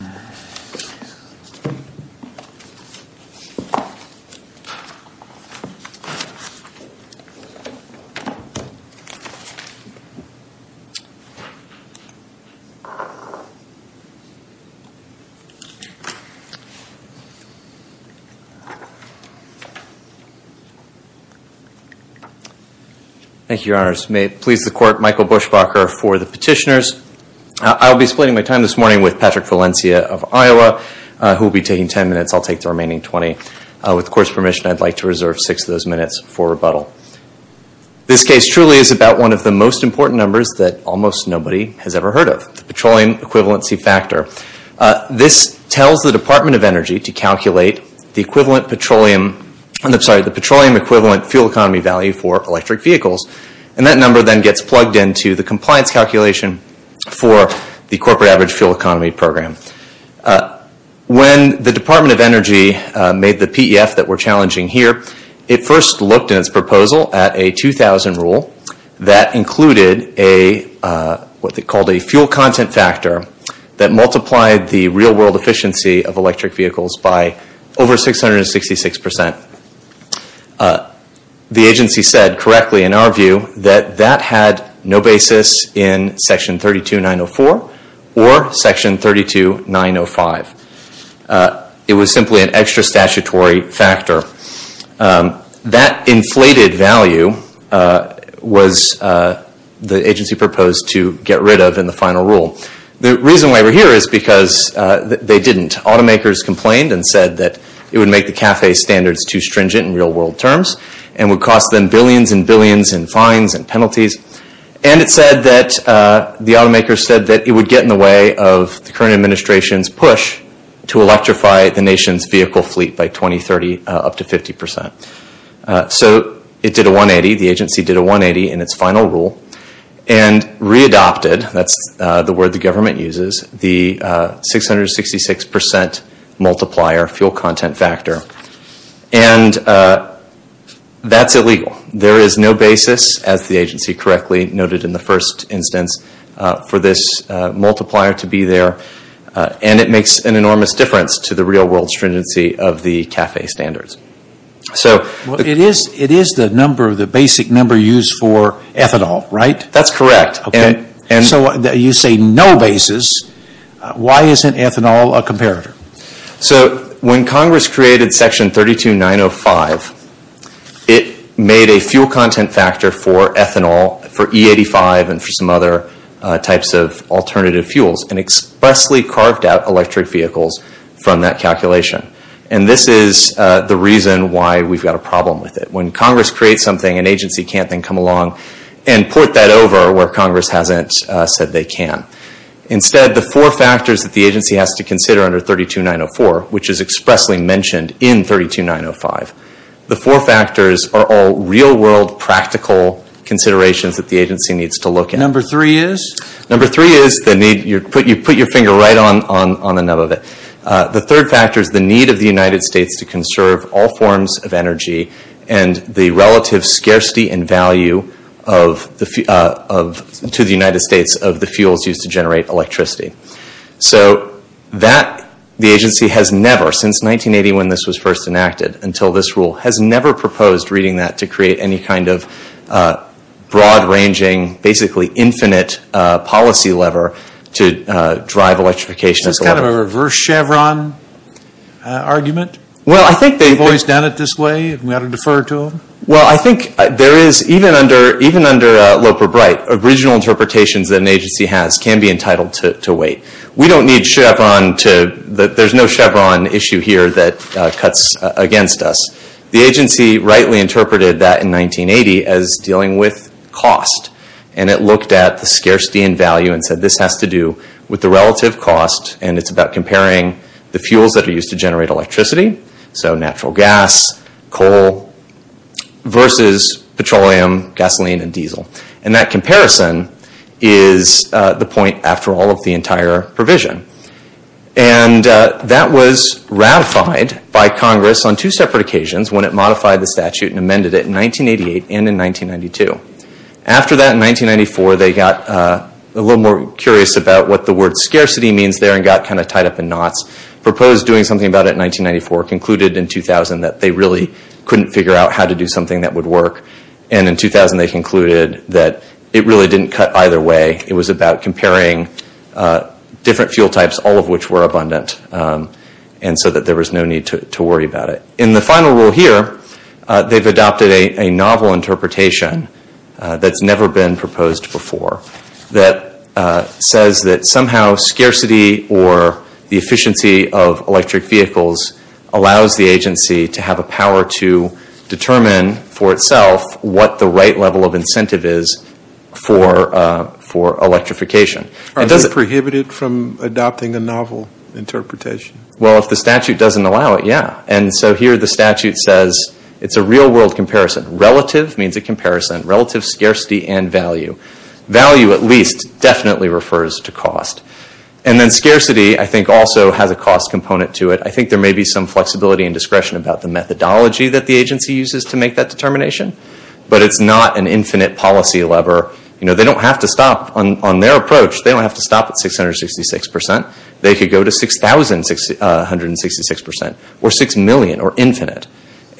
Thank you, Your Honors. May it please the Court, Michael Bushbacher for the petitioners. I will be splitting my time this morning with Patrick Valencia of Iowa, who will be taking 10 minutes. I'll take the remaining 20. With the Court's permission, I'd like to reserve six of those minutes for rebuttal. This case truly is about one of the most important numbers that almost nobody has ever heard of, the petroleum equivalency factor. This tells the Department of Energy to calculate the petroleum equivalent fuel economy value for electric vehicles. That number then gets plugged into the compliance calculation for the Corporate Average Fuel Economy Program. When the Department of Energy made the PEF that we're challenging here, it first looked in its proposal at a 2000 rule that included what they called a fuel content factor that multiplied the real-world efficiency of electric vehicles by over 666 percent. The agency said correctly, in our view, that that had no basis in Section 32904 or Section 32905. It was simply an extra statutory factor. That inflated value was the agency proposed to get rid of in the final rule. The reason why we're here is because they didn't. Automakers complained and said that it would make the CAFE standards too stringent in real-world terms and would cost them billions and billions in fines and penalties. It said that the automakers said that it would get in the way of the current administration's push to electrify the nation's vehicle fleet by 2030, up to 50 percent. It did a 180. The agency did a 180 in its final rule and readopted, that's the word the government uses, the 666 percent multiplier fuel content factor. That's illegal. There is no basis, as the agency correctly noted in the first instance, for this multiplier to be there. It makes an enormous difference to the real-world stringency of the CAFE standards. It is the basic number used for ethanol, right? That's correct. So you say no basis. Why isn't ethanol a comparator? When Congress created Section 32905, it made a fuel content factor for ethanol, for E85 and for some other types of alternative fuels and expressly carved out electric vehicles from that calculation. This is the reason why we've got a problem with it. When Congress creates something, an agency can't then come along and put that over where Congress hasn't said they can. Instead, the four factors that the agency has to consider under 32904, which is expressly mentioned in 32905, the four factors are all real-world practical considerations that the agency needs to look at. Number three is? Number three is, you put your finger right on the nub of it, the third factor is the need of the United States to conserve all forms of energy and the relative scarcity and value to the United States of the fuels used to generate electricity. So that, the agency has never, since 1980 when this was first enacted, until this rule, has never proposed reading that to create any kind of broad-ranging, basically infinite policy lever to drive electrification. Is this kind of a reverse Chevron argument? Well, I think they've always done it this way, and we ought to defer to them? Well, I think there is, even under Loper-Bright, original interpretations that an agency has can be entitled to wait. We don't need Chevron to, there's no Chevron issue here that cuts against us. The agency rightly interpreted that in 1980 as dealing with cost, and it looked at the scarcity and value and said this has to do with the relative cost, and it's about comparing the fuels that are used to generate electricity, so natural gas, coal, versus petroleum, gasoline, and diesel. And that comparison is the point after all of the entire provision. And that was ratified by Congress on two separate occasions when it modified the statute and amended it in 1988 and in 1992. After that, in 1994, they got a little more curious about what the word scarcity means there and got kind of tied up in knots, proposed doing something about it in 1994, concluded in 2000 that they really couldn't figure out how to do something that would work. And in 2000, they concluded that it really didn't cut either way. It was about comparing different fuel types, all of which were abundant, and so that there was no need to worry about it. In the final rule here, they've adopted a novel interpretation that's never been proposed before that says that somehow scarcity or the efficiency of electric vehicles allows the agency to have a power to determine for itself what the right level of incentive is for electrification. Are they prohibited from adopting a novel interpretation? Well, if the statute doesn't allow it, yeah. And so here the statute says it's a real world comparison. Relative means a comparison. Relative scarcity and value. Value at least definitely refers to cost. And then scarcity, I think, also has a cost component to it. I think there may be some flexibility and discretion about the methodology that the agency uses to make that determination, but it's not an infinite policy lever. They don't have to stop. On their approach, they don't have to stop at 666 percent. They could go to 6,666 percent or 6 million or infinite.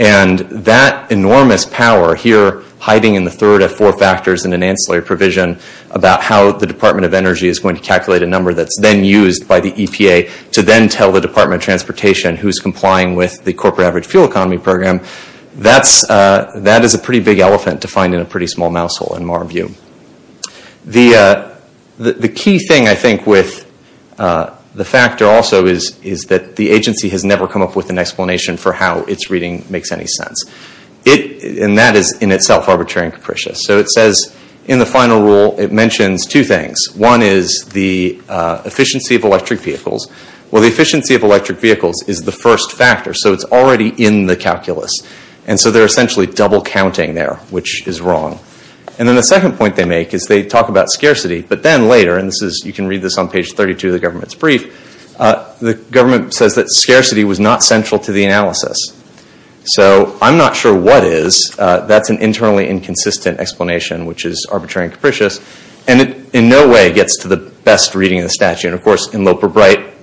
And that enormous power here hiding in the third of four factors in an ancillary provision about how the Department of Energy is going to calculate a number that's then used by the EPA to then tell the Department of Transportation who's complying with the Corporate Average Fuel Economy Program, that is a pretty big elephant to find in a pretty small mousehole in my view. The key thing, I think, with the factor also is that the agency has never come up with an explanation for how its reading makes any sense. And that is in itself arbitrary and capricious. So it says in the final rule, it mentions two things. One is the efficiency of electric vehicles. Well, the efficiency of electric vehicles is the first factor, so it's already in the And so they're essentially double counting there, which is wrong. And then the second point they make is they talk about scarcity, but then later, and you can read this on page 32 of the government's brief, the government says that scarcity was not central to the analysis. So I'm not sure what is. That's an internally inconsistent explanation, which is arbitrary and capricious. And it in no way gets to the best reading of the statute. Of course, in Loper-Bright,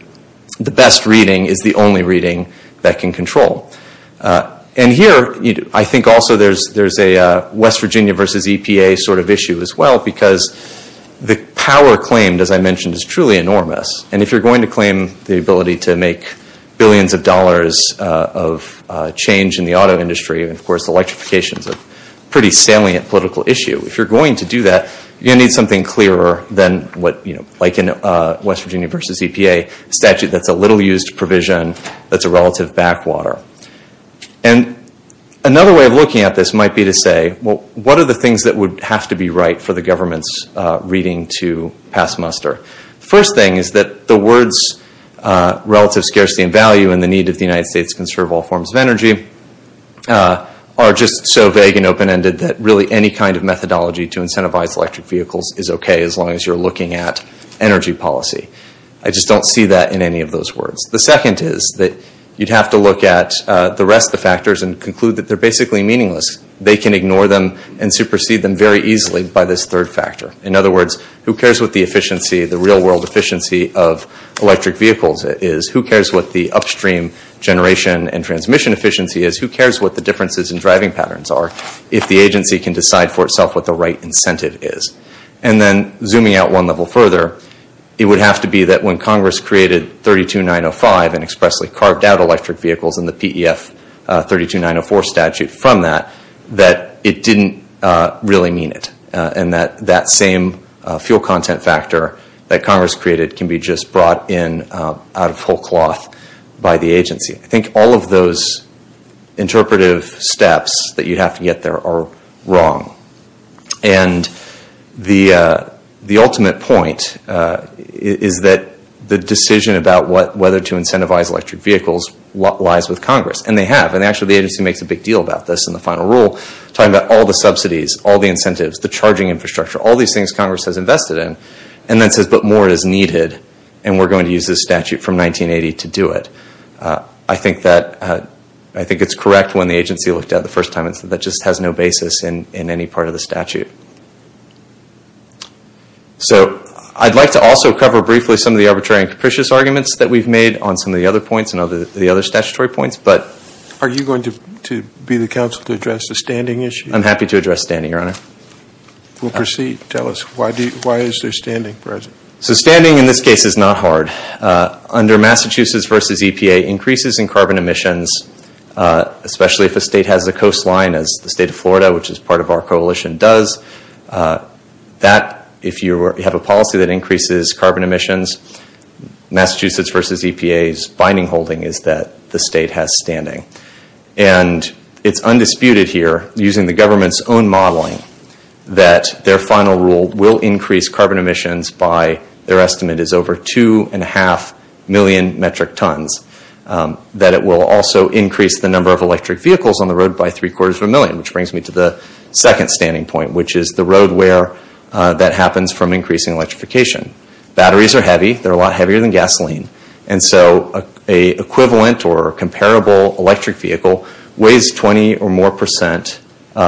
the best reading is the only reading that can control. And here, I think also there's a West Virginia versus EPA sort of issue as well, because the power claimed, as I mentioned, is truly enormous. And if you're going to claim the ability to make billions of dollars of change in the auto industry, and of course, electrification is a pretty salient political issue, if you're going to do that, you're going to need something clearer than what, you know, like in West Virginia versus EPA statute that's a little-used provision that's a relative backwater. And another way of looking at this might be to say, well, what are the things that would have to be right for the government's reading to pass muster? First thing is that the words relative scarcity and value and the need of the United States to conserve all forms of energy are just so vague and open-ended that really any kind of methodology to incentivize electric vehicles is okay as long as you're looking at energy policy. I just don't see that in any of those words. The second is that you'd have to look at the rest of the factors and conclude that they're basically meaningless. They can ignore them and supersede them very easily by this third factor. In other words, who cares what the efficiency, the real-world efficiency of electric vehicles is? Who cares what the upstream generation and transmission efficiency is? Who cares what the differences in driving patterns are if the agency can decide for itself what the right incentive is? And then zooming out one level further, it would have to be that when Congress created 32905 and expressly carved out electric vehicles in the PEF 32904 statute from that, that it didn't really mean it and that that same fuel content factor that Congress created can be just brought in out of whole cloth by the agency. I think all of those interpretive steps that you'd have to get there are wrong. And the ultimate point is that the decision about whether to incentivize electric vehicles lies with Congress, and they have, and actually the agency makes a big deal about this in a rule, talking about all the subsidies, all the incentives, the charging infrastructure, all these things Congress has invested in, and then says, but more is needed and we're going to use this statute from 1980 to do it. I think that, I think it's correct when the agency looked at it the first time and said that just has no basis in any part of the statute. So I'd like to also cover briefly some of the arbitrary and capricious arguments that we've made on some of the other points and the other statutory points. Are you going to be the counsel to address the standing issue? I'm happy to address standing, Your Honor. We'll proceed. Tell us, why is there standing present? So standing in this case is not hard. Under Massachusetts v. EPA, increases in carbon emissions, especially if a state has a coastline as the state of Florida, which is part of our coalition, does, that, if you have a policy that increases carbon emissions, Massachusetts v. EPA's binding holding is that the state has standing. And it's undisputed here, using the government's own modeling, that their final rule will increase carbon emissions by, their estimate is over two and a half million metric tons. That it will also increase the number of electric vehicles on the road by three quarters of a million, which brings me to the second standing point, which is the road wear that happens from increasing electrification. Batteries are heavy. They're a lot heavier than gasoline. And so an equivalent or comparable electric vehicle weighs 20 or more percent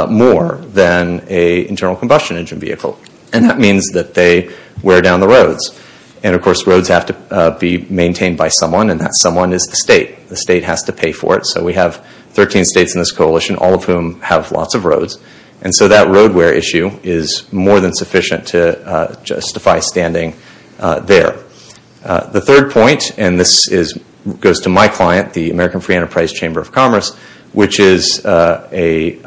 more than an internal combustion engine vehicle. And that means that they wear down the roads. And of course, roads have to be maintained by someone, and that someone is the state. The state has to pay for it. So we have 13 states in this coalition, all of whom have lots of roads. And so that road wear issue is more than sufficient to justify standing there. The third point, and this goes to my client, the American Free Enterprise Chamber of Commerce, which is an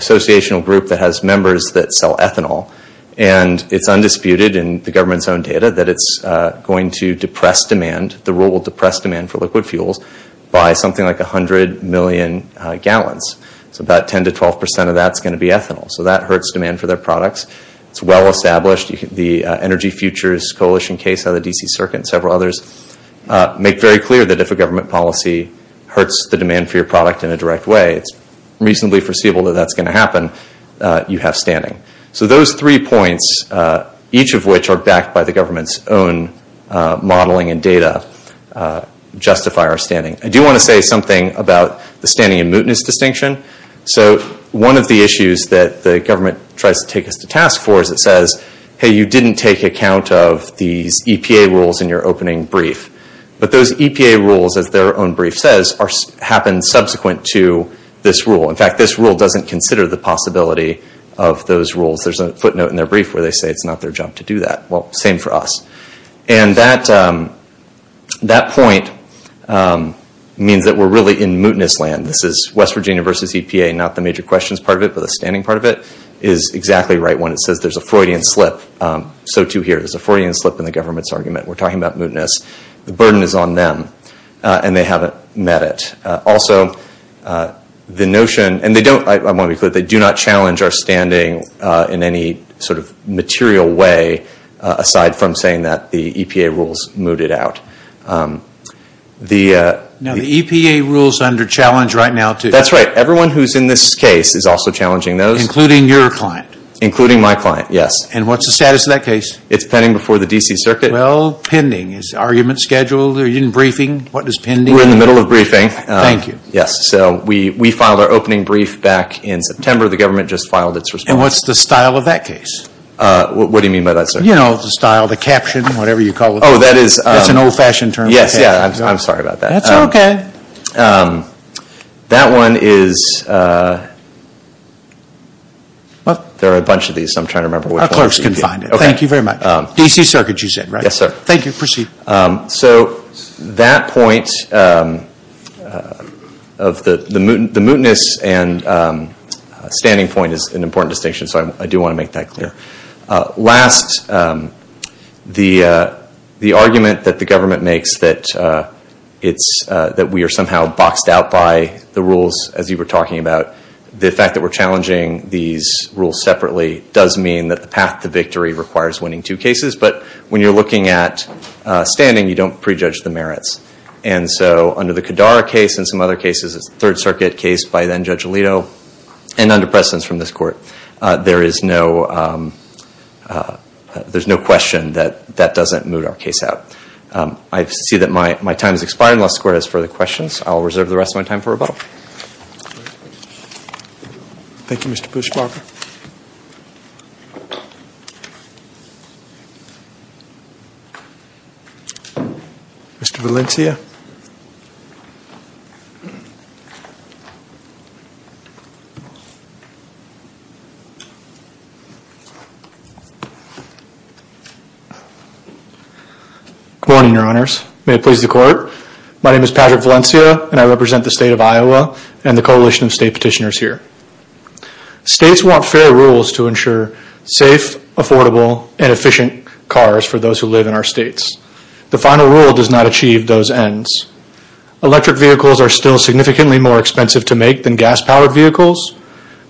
associational group that has members that sell ethanol. And it's undisputed in the government's own data that it's going to depress demand, the rule will depress demand for liquid fuels, by something like 100 million gallons. So about 10 to 12 percent of that's going to be ethanol. So that hurts demand for their products. It's well established. The Energy Futures Coalition case out of the D.C. Circuit and several others make very clear that if a government policy hurts the demand for your product in a direct way, it's reasonably foreseeable that that's going to happen. You have standing. So those three points, each of which are backed by the government's own modeling and data, justify our standing. I do want to say something about the standing and mootness distinction. So one of the issues that the government tries to take us to task for is it says, hey, you didn't take account of these EPA rules in your opening brief. But those EPA rules, as their own brief says, happen subsequent to this rule. In fact, this rule doesn't consider the possibility of those rules. There's a footnote in their brief where they say it's not their job to do that. Well, same for us. And that point means that we're really in mootness land. This is West Virginia versus EPA. Not the major questions part of it, but the standing part of it is exactly right when it says there's a Freudian slip. So too here. There's a Freudian slip in the government's argument. We're talking about mootness. The burden is on them. And they haven't met it. Also, the notion, and they don't, I want to be clear, they do not challenge our standing in any sort of material way aside from saying that the EPA rules moot it out. Now, the EPA rules under challenge right now, too. That's right. Everyone who's in this case is also challenging those. Including your client. Including my client, yes. And what's the status of that case? It's pending before the D.C. Circuit. Well, pending. Is argument scheduled? Are you in briefing? What is pending? We're in the middle of briefing. Thank you. Yes. So we filed our opening brief back in September. The government just filed its response. And what's the style of that case? What do you mean by that, sir? You know the style. The caption, whatever you call it. Oh, that is. That's an old-fashioned term. Yes, yes. I'm sorry about that. That one is, there are a bunch of these, so I'm trying to remember which one. Our clerks can find it. Okay. Thank you very much. D.C. Circuit, you said, right? Yes, sir. Thank you. Proceed. So that point of the mootness and standing point is an important distinction, so I do want to make that clear. Last, the argument that the government makes that we are somehow boxed out by the rules, as you were talking about, the fact that we're challenging these rules separately does mean that the path to victory requires winning two cases. But when you're looking at standing, you don't prejudge the merits. And so under the Kadara case and some other cases, it's a Third Circuit case by then-Judge Alito, and under precedence from this Court. There is no question that that doesn't moot our case out. I see that my time has expired, and unless the Court has further questions, I'll reserve the rest of my time for rebuttal. Thank you, Mr. Pushparker. Mr. Valencia? Good morning, Your Honors. May it please the Court. My name is Patrick Valencia, and I represent the State of Iowa and the Coalition of State Petitioners here. States want fair rules to ensure safe, affordable, and efficient cars for those who live in our states. The final rule does not achieve those ends. Electric vehicles are still significantly more expensive to make than gas-powered vehicles,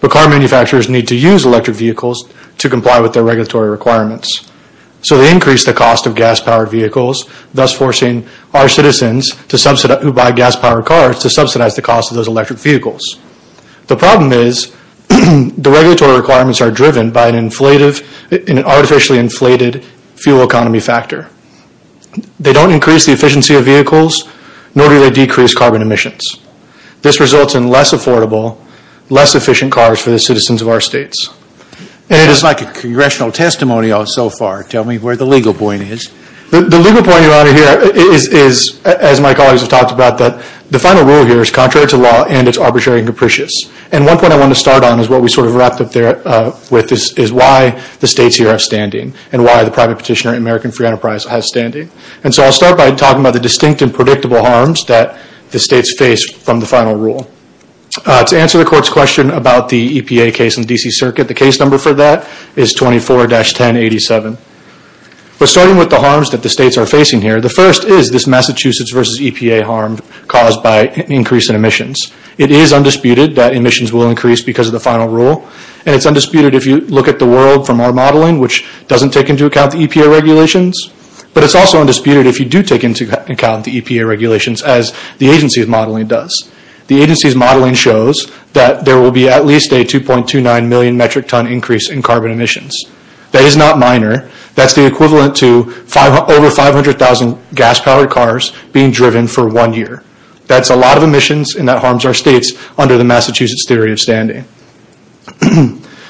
but car manufacturers need to use electric vehicles to comply with their regulatory requirements. So they increase the cost of gas-powered vehicles, thus forcing our citizens who buy gas-powered cars to subsidize the cost of those electric vehicles. The problem is the regulatory requirements are driven by an artificially inflated fuel economy factor. They don't increase the efficiency of vehicles, nor do they decrease carbon emissions. This results in less affordable, less efficient cars for the citizens of our states. And it is like a congressional testimony so far. Tell me where the legal point is. The legal point, Your Honor, here is, as my colleagues have talked about, that the final rule here is contrary to law and it's arbitrary and capricious. And one point I want to start on is what we sort of wrapped up there with is why the states here are standing and why the private petitioner in American Free Enterprise has standing. And so I'll start by talking about the distinct and predictable harms that the states face from the final rule. To answer the Court's question about the EPA case in the D.C. Circuit, the case number for that is 24-1087. But starting with the harms that the states are facing here, the first is this Massachusetts v. EPA harm caused by an increase in emissions. It is undisputed that emissions will increase because of the final rule, and it's undisputed if you look at the world from our modeling, which doesn't take into account the EPA regulations. But it's also undisputed if you do take into account the EPA regulations as the agency's modeling does. The agency's modeling shows that there will be at least a 2.29 million metric ton increase in carbon emissions. That is not minor. That's the equivalent to over 500,000 gas-powered cars being driven for one year. That's a lot of emissions and that harms our states under the Massachusetts theory of standing.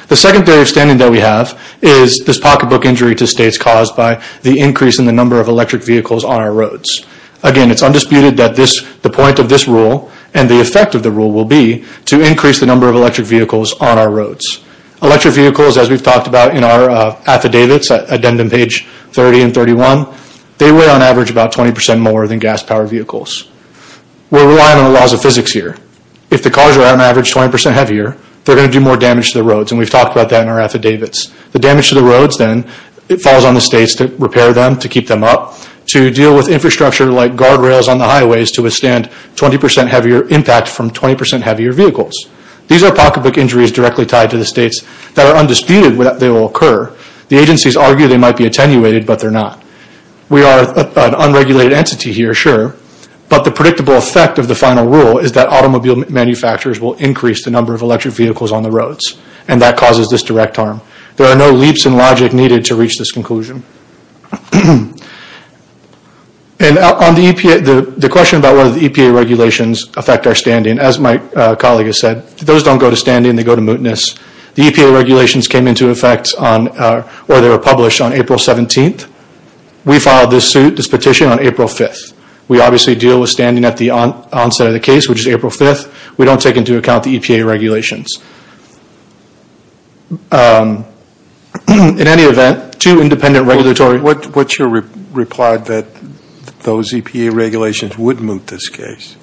The second theory of standing that we have is this pocketbook injury to states caused by the increase in the number of electric vehicles on our roads. Again, it's undisputed that the point of this rule and the effect of the rule will be to increase the number of electric vehicles on our roads. Electric vehicles, as we've talked about in our affidavits, addendum page 30 and 31, they weigh on average about 20% more than gas-powered vehicles. We're relying on the laws of physics here. If the cars are on average 20% heavier, they're going to do more damage to the roads, and we've talked about that in our affidavits. The damage to the roads then falls on the states to repair them, to keep them up, to deal with infrastructure like guardrails on the highways to withstand 20% heavier impact from 20% heavier vehicles. These are pocketbook injuries directly tied to the states that are undisputed that they will occur. The agencies argue they might be attenuated, but they're not. We are an unregulated entity here, sure, but the predictable effect of the final rule is that automobile manufacturers will increase the number of electric vehicles on the roads, and that causes this direct harm. There are no leaps in logic needed to reach this conclusion. The question about whether the EPA regulations affect our standing, as my colleague has said, those don't go to standing. They go to mootness. The EPA regulations came into effect, or they were published, on April 17th. We filed this petition on April 5th. We obviously deal with standing at the onset of the case, which is April 5th. We don't take into account the EPA regulations. In any event, two independent regulatory... What's your reply that those EPA regulations would moot this case?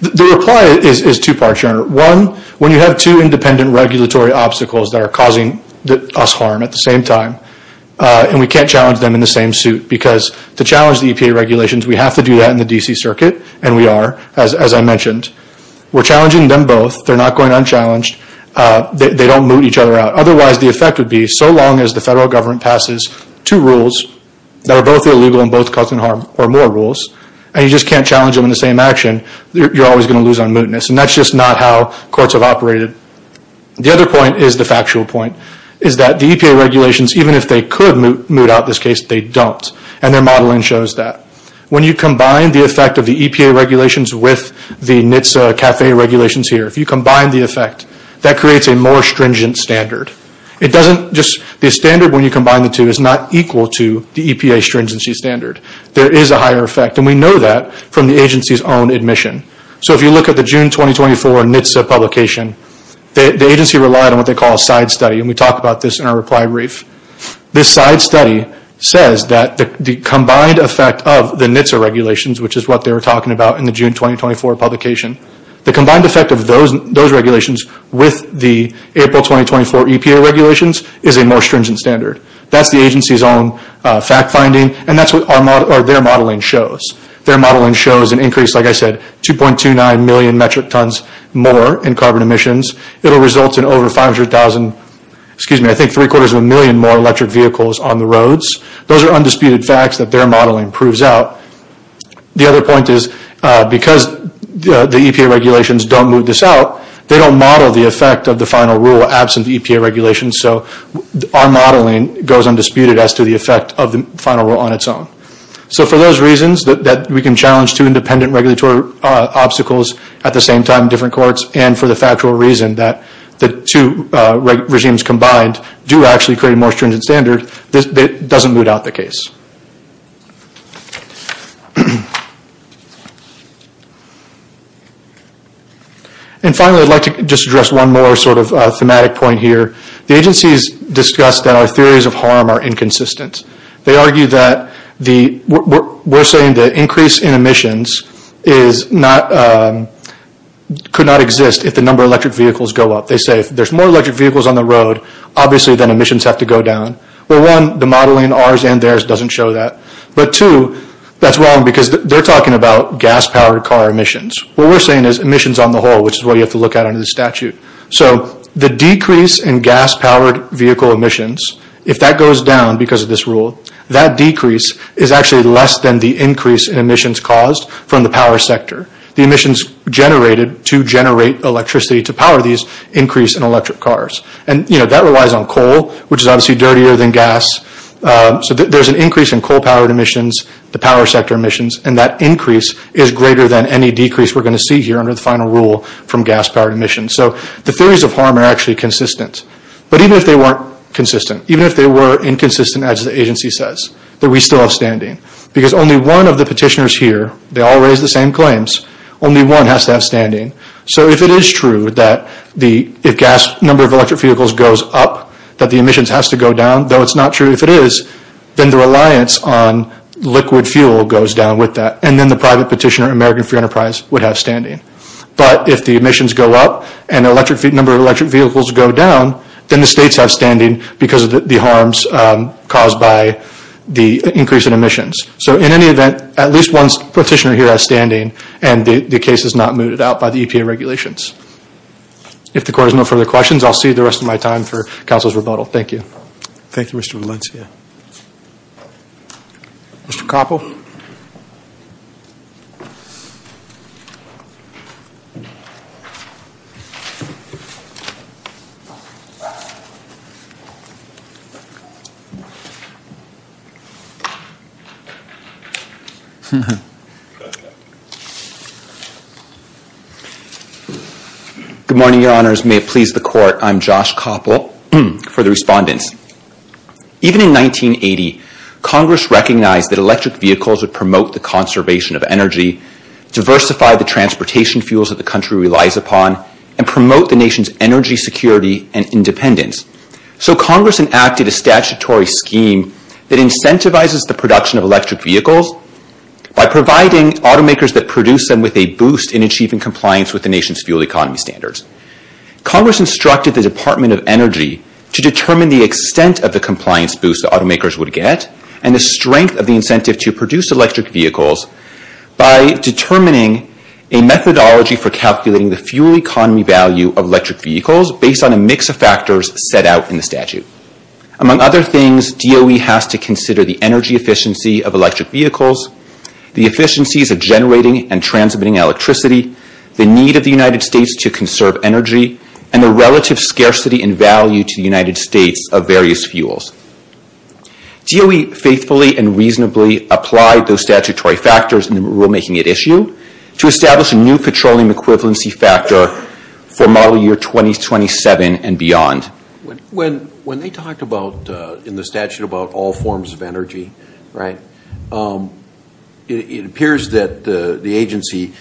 The reply is two parts, Your Honor. One, when you have two independent regulatory obstacles that are causing us harm at the same time, and we can't challenge them in the same suit, because to challenge the EPA regulations, we have to do that in the DC circuit, and we are, as I mentioned. We're challenging them both. They're not going unchallenged. They don't moot each other out. Otherwise, the effect would be, so long as the federal government passes two rules that are both illegal and both causing harm, or more rules, and you just can't challenge them in the same action, you're always going to lose on mootness, and that's just not how courts have operated. The other point is the factual point, is that the EPA regulations, even if they could moot out this case, they don't, and their modeling shows that. When you combine the effect of the EPA regulations with the NHTSA CAFE regulations here, if you combine the effect, that creates a more stringent standard. It doesn't just, the standard when you combine the two is not equal to the EPA stringency standard. There is a higher effect, and we know that from the agency's own admission. So if you look at the June 2024 NHTSA publication, the agency relied on what they call a side study, and we talk about this in our reply brief. This side study says that the combined effect of the NHTSA regulations, which is what they were talking about in the June 2024 publication, the combined effect of those regulations with the April 2024 EPA regulations is a more stringent standard. That's the agency's own fact finding, and that's what their modeling shows. Their modeling shows an increase, like I said, 2.29 million metric tons more in carbon emissions. It will result in over 500,000, excuse me, I think three quarters of a million more electric vehicles on the roads. Those are undisputed facts that their modeling proves out. The other point is, because the EPA regulations don't move this out, they don't model the effect of the final rule absent the EPA regulations. So our modeling goes undisputed as to the effect of the final rule on its own. So for those reasons that we can challenge two independent regulatory obstacles at the same time in different courts, and for the factual reason that the two regimes combined do actually create a more stringent standard, it doesn't move out the case. And finally, I'd like to just address one more sort of thematic point here. The agencies discussed that our theories of harm are inconsistent. They argue that the, we're saying the increase in emissions is not, could not exist if the number of electric vehicles go up. They say if there's more electric vehicles on the road, obviously then emissions have to go down. Well, one, the modeling, ours and theirs, doesn't show that. But two, that's wrong because they're talking about gas-powered car emissions. What we're saying is emissions on the whole, which is what you have to look at under the statute. So, the decrease in gas-powered vehicle emissions, if that goes down because of this rule, that decrease is actually less than the increase in emissions caused from the power sector. The emissions generated to generate electricity to power these increase in electric cars. And you know, that relies on coal, which is obviously dirtier than gas. So there's an increase in coal-powered emissions, the power sector emissions, and that increase is greater than any decrease we're going to see here under the final rule from gas-powered emissions. So, the theories of harm are actually consistent. But even if they weren't consistent, even if they were inconsistent as the agency says, that we still have standing. Because only one of the petitioners here, they all raise the same claims, only one has to have standing. So, if it is true that the, if gas number of electric vehicles goes up, that the emissions has to go down, though it's not true if it is, then the reliance on liquid fuel goes down with that. And then the private petitioner, American Free Enterprise, would have standing. But if the emissions go up, and the electric, number of electric vehicles go down, then the states have standing because of the harms caused by the increase in emissions. So in any event, at least one petitioner here has standing, and the case is not mooted out by the EPA regulations. If the court has no further questions, I'll save the rest of my time for counsel's rebuttal. Thank you. Thank you, Mr. Valencia. Mr. Koppel. Good morning, your honors. May it please the court. I'm Josh Koppel, for the respondents. Even in 1980, Congress recognized that electric vehicles would promote the conservation of energy, diversify the transportation fuels that the country relies upon, and promote the nation's energy security and independence. So Congress enacted a statutory scheme that incentivizes the production of electric vehicles by providing automakers that produce them with a boost in achieving compliance with the nation's fuel economy standards. Congress instructed the Department of Energy to determine the extent of the compliance boost automakers would get, and the strength of the incentive to produce electric vehicles, by determining a methodology for calculating the fuel economy value of electric vehicles based on a mix of factors set out in the statute. Among other things, DOE has to consider the energy efficiency of electric vehicles, the efficiencies of generating and transmitting electricity, the need of the United States to conserve energy, and the relative scarcity in value to the United States of various fuels. DOE faithfully and reasonably applied those statutory factors in the rulemaking at issue to establish a new petroleum equivalency factor for model year 2027 and beyond. When they talked about, in the statute, about all forms of energy, it appears that the agency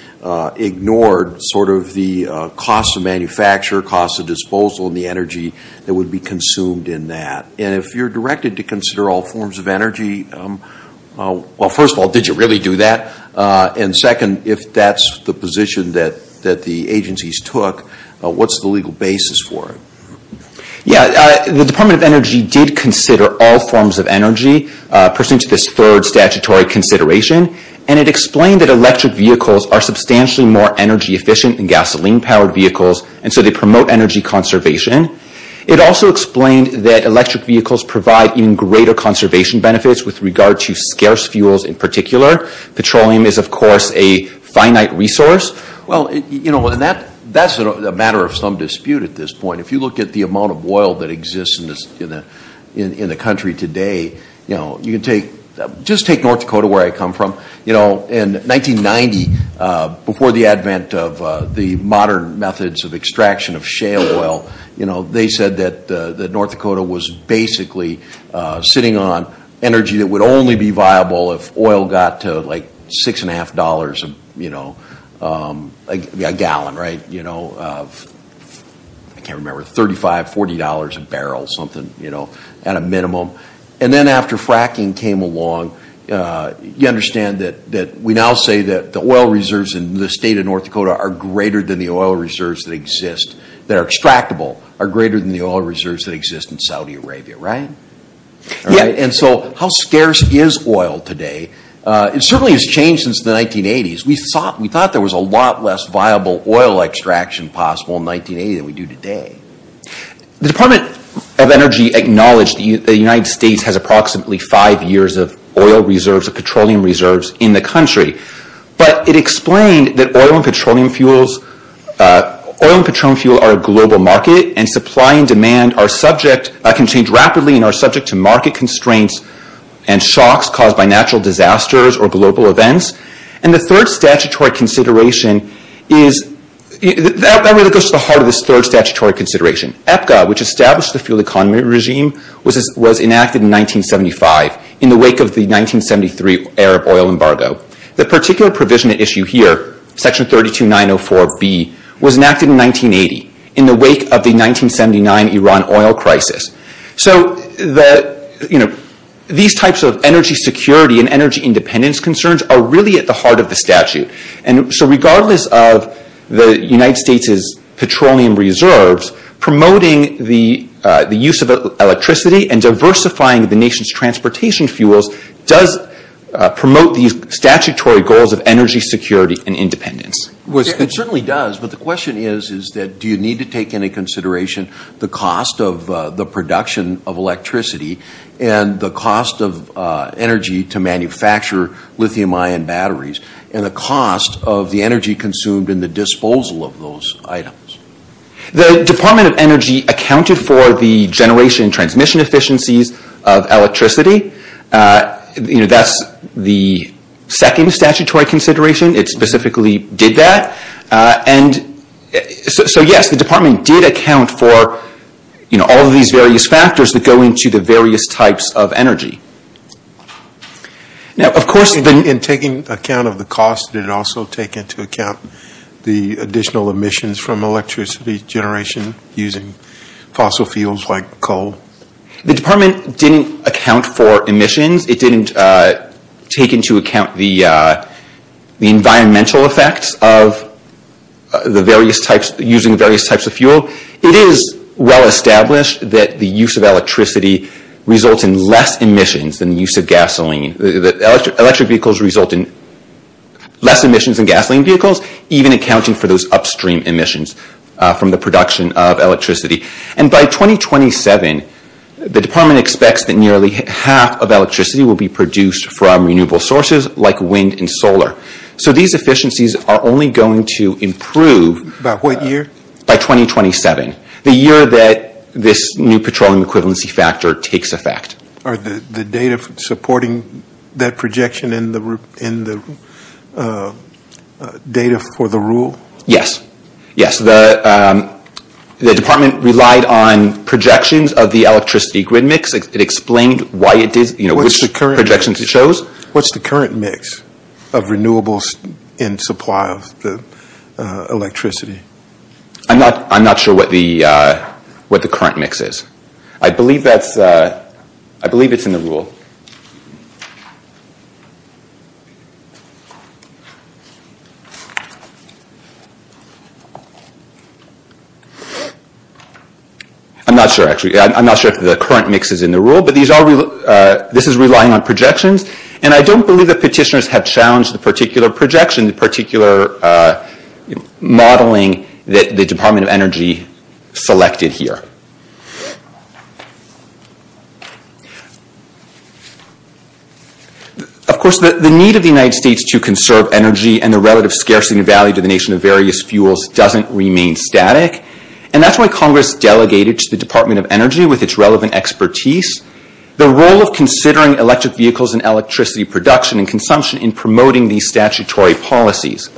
ignored sort of the cost of manufacture, cost of disposal, and the energy that would be consumed in that. And if you're directed to consider all forms of energy, well, first of all, did you really do that? And second, if that's the position that the agencies took, what's the legal basis for it? Yeah, the Department of Energy did consider all forms of energy pursuant to this third statutory consideration. And it explained that electric vehicles are substantially more energy efficient than gasoline-powered vehicles, and so they promote energy conservation. It also explained that electric vehicles provide even greater conservation benefits with regard to scarce fuels in particular. Petroleum is, of course, a finite resource. Well, you know, and that's a matter of some dispute at this point. If you look at the amount of oil that exists in the country today, you know, you can take North Dakota, where I come from, you know, in 1990, before the advent of the modern methods of extraction of shale oil, you know, they said that North Dakota was basically sitting on energy that would only be viable if oil got to like six and a half dollars a, you know, a gallon, right? You know, I can't remember, $35, $40 a barrel, something, you know, at a minimum. And then after fracking came along, you understand that we now say that the oil reserves in the state of North Dakota are greater than the oil reserves that exist, that are extractable, are greater than the oil reserves that exist in Saudi Arabia, right? And so how scarce is oil today? It certainly has changed since the 1980s. We thought there was a lot less viable oil extraction possible in 1980 than we do today. The Department of Energy acknowledged that the United States has approximately five years of oil reserves, of petroleum reserves in the country. But it explained that oil and petroleum fuels, oil and petroleum fuel are a global market and supply and demand are subject, can change rapidly and are subject to market constraints and shocks caused by natural disasters or global events. And the third statutory consideration is, that really goes to the heart of this third statutory consideration. EPGA, which established the fuel economy regime, was enacted in 1975 in the wake of the 1973 Arab oil embargo. The particular provision at issue here, section 32904B, was enacted in 1980 in the wake of the 1979 Iran oil crisis. So the, you know, these types of energy security and energy independence concerns are really at the heart of the statute. And so regardless of the United States' petroleum reserves, promoting the use of electricity and diversifying the nation's transportation fuels does promote these statutory goals of energy security and independence. It certainly does, but the question is, is that do you need to take into consideration the cost of the production of electricity and the cost of energy to manufacture lithium-ion batteries and the cost of the energy consumed in the disposal of those items? The Department of Energy accounted for the generation and transmission efficiencies of electricity. You know, that's the second statutory consideration. It specifically did that. And so yes, the Department did account for, you know, all of these various factors that go into the various types of energy. Now, of course, the – In taking account of the cost, did it also take into account the additional emissions from electricity generation using fossil fuels like coal? The department didn't account for emissions. It didn't take into account the environmental effects of the various types – using various types of fuel. It is well established that the use of electricity results in less emissions than the use of gasoline. Electric vehicles result in less emissions than gasoline vehicles, even accounting for those upstream emissions from the production of electricity. And by 2027, the department expects that nearly half of electricity will be produced from renewable sources like wind and solar. So these efficiencies are only going to improve – By what year? By 2027, the year that this new petroleum equivalency factor takes effect. Are the data supporting that projection in the data for the rule? Yes. Yes. The department relied on projections of the electricity grid mix. It explained why it did – you know, which projections it chose. What's the current mix of renewables in supply of the electricity? I'm not sure what the current mix is. I believe that's – I believe it's in the rule. I'm not sure, actually. I'm not sure if the current mix is in the rule, but these are – this is relying on projections. And I don't believe the petitioners have challenged the particular projection, the particular modeling that the Department of Energy selected here. Of course, the need of the United States to conserve energy and the relative scarcity and value to the nation of various fuels doesn't remain static. And that's why Congress delegated to the Department of Energy, with its relevant expertise, the role of considering electric vehicles and electricity production and consumption in promoting these statutory policies.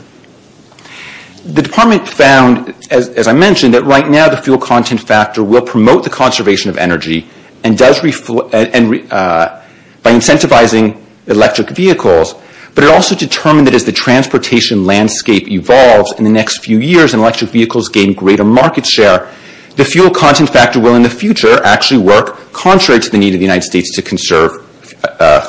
The department found, as I mentioned, that right now the fuel content factor will promote the conservation of energy and does – by incentivizing electric vehicles, but it also determined that as the transportation landscape evolves in the next few years and electric vehicles gain greater market share, the fuel content factor will in the future actually work contrary to the need of the United States to conserve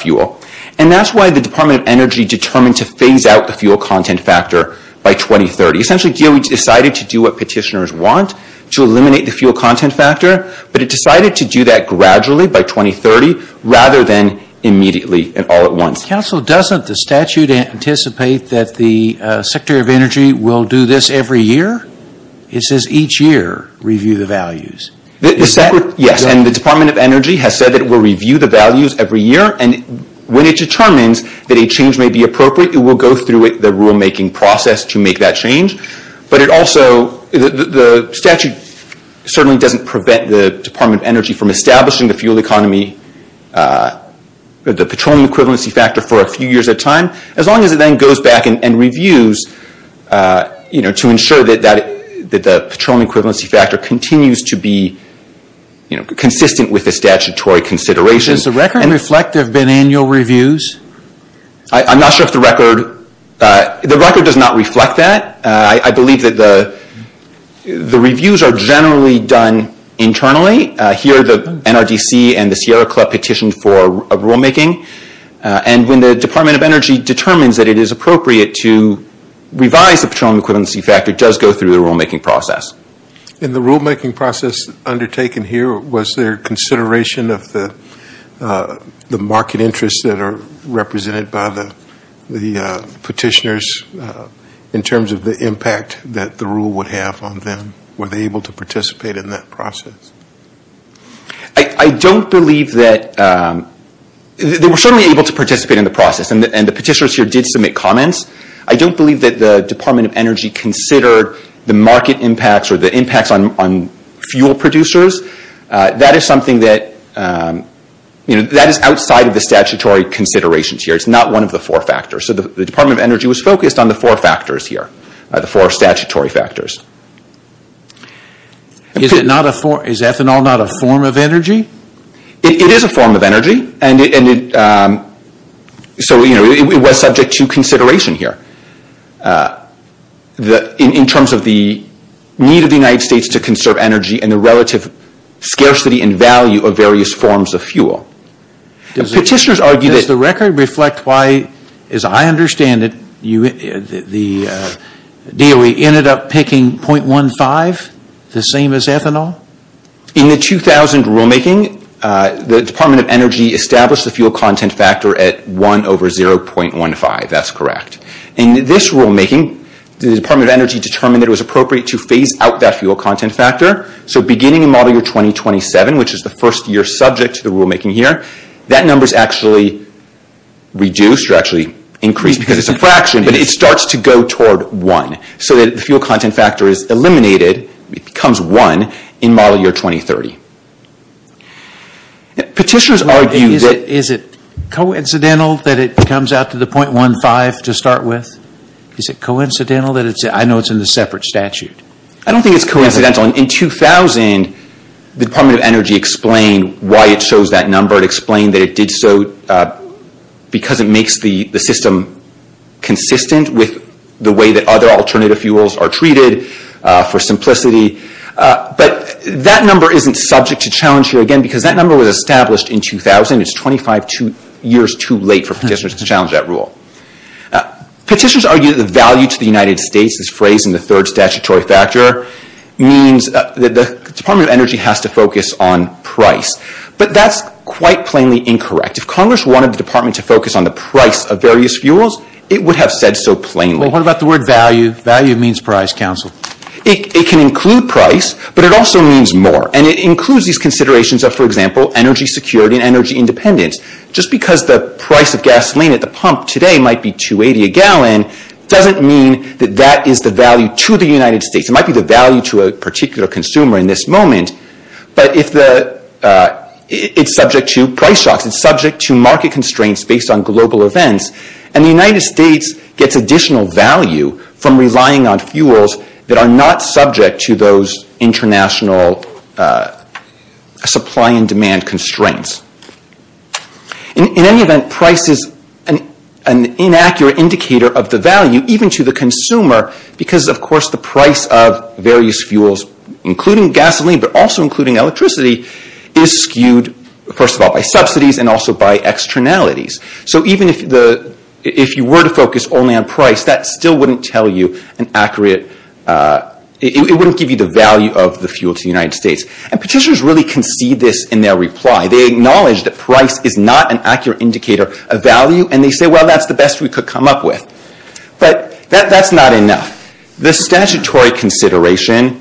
fuel. And that's why the Department of Energy determined to phase out the fuel content factor by 2030. Essentially, DOE decided to do what petitioners want, to eliminate the fuel content factor, but it decided to do that gradually by 2030 rather than immediately and all at once. Counsel, doesn't the statute anticipate that the Secretary of Energy will do this every year? It says each year review the values. Yes, and the Department of Energy has said that it will review the values every year. And when it determines that a change may be appropriate, it will go through the rulemaking process to make that change. But it also – the statute certainly doesn't prevent the Department of Energy from establishing the fuel economy – the petroleum equivalency factor for a few years at a time. As long as it then goes back and reviews to ensure that the petroleum equivalency factor continues to be consistent with the statutory consideration – Does the record reflect there have been annual reviews? I'm not sure if the record – the record does not reflect that. I believe that the reviews are generally done internally. Here the NRDC and the Sierra Club petitioned for rulemaking. And when the Department of Energy determines that it is appropriate to revise the petroleum equivalency factor, it does go through the rulemaking process. In the rulemaking process undertaken here, was there consideration of the market interests that are represented by the petitioners in terms of the impact that the rule would have on them? Were they able to participate in that process? I don't believe that – they were certainly able to participate in the process. And the petitioners here did submit comments. I don't believe that the Department of Energy considered the market impacts or the impacts on fuel producers. That is something that – that is outside of the statutory considerations here. It's not one of the four factors. So the Department of Energy was focused on the four factors here – the four statutory factors. Is ethanol not a form of energy? It is a form of energy. And so, you know, it was subject to consideration here in terms of the need of the United States to conserve energy and the relative scarcity and value of various forms of fuel. Petitioners argued that – Does the record reflect why, as I understand it, the DOE ended up picking .15, the same as ethanol? In the 2000 rulemaking, the Department of Energy established the fuel content factor at 1 over 0.15. That's correct. In this rulemaking, the Department of Energy determined that it was appropriate to phase out that fuel content factor. So beginning in model year 2027, which is the first year subject to the rulemaking here, that number is actually reduced or actually increased because it's a fraction, but it starts to go toward 1, so that the fuel content factor is eliminated, it becomes 1, in model year 2030. Petitioners argue that – Is it coincidental that it comes out to the .15 to start with? Is it coincidental that it's – I know it's in the separate statute. I don't think it's coincidental. In 2000, the Department of Energy explained why it chose that number. It explained that it did so because it makes the system consistent with the way that other alternative fuels are treated, for simplicity. But that number isn't subject to challenge here, again, because that number was established in 2000. It's 25 years too late for petitioners to challenge that rule. Petitioners argue that the value to the United States, this phrase in the third statutory factor, means that the Department of Energy has to focus on price. But that's quite plainly incorrect. If Congress wanted the Department to focus on the price of various fuels, it would have said so plainly. Well, what about the word value? Value means price, counsel. It can include price, but it also means more. And it includes these considerations of, for example, energy security and energy independence. Just because the price of gasoline at the pump today might be $2.80 a gallon, doesn't mean that that is the value to the United States. It might be the value to a particular consumer in this moment. But it's subject to price shocks. It's subject to market constraints based on global events. And the United States gets additional value from relying on fuels that are not subject to those international supply and demand constraints. In any event, price is an inaccurate indicator of the value, even to the consumer, because of course the price of various fuels, including gasoline but also including electricity, is skewed first of all by subsidies and also by externalities. So even if you were to focus only on price, that still wouldn't give you the value of the fuel to the United States. And petitioners really concede this in their reply. They acknowledge that price is not an accurate indicator of value, and they say, well, that's the best we could come up with. But that's not enough. The statutory consideration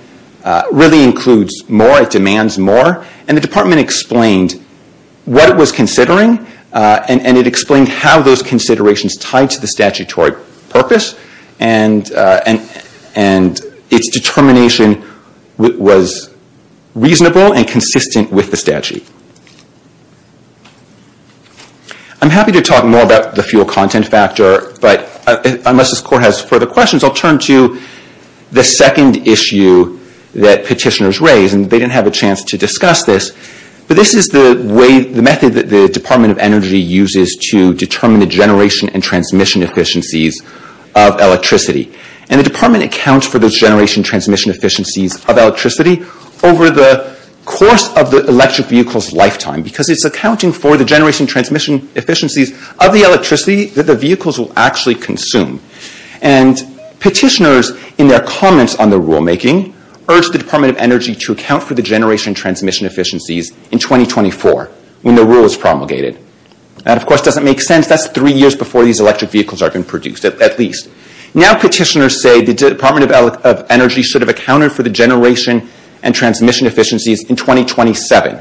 really includes more, it demands more, and the Department explained what it was considering, and it explained how those considerations tied to the statutory purpose, and its determination was reasonable and consistent with the statute. I'm happy to talk more about the fuel content factor, but unless this Court has further questions, I'll turn to the second issue that petitioners raised, and they didn't have a chance to discuss this, but this is the method that the Department of Energy uses to determine the generation and transmission efficiencies of electricity. And the Department accounts for those generation and transmission efficiencies of electricity over the course of the electric vehicle's lifetime, because it's accounting for the generation and transmission efficiencies of the electricity that the vehicles will actually consume. And petitioners, in their comments on the rulemaking, urged the Department of Energy to account for the generation and transmission efficiencies in 2024, when the rule was promulgated. That, of course, doesn't make sense. That's three years before these electric vehicles are being produced, at least. Now petitioners say the Department of Energy should have accounted for the generation and transmission efficiencies in 2027.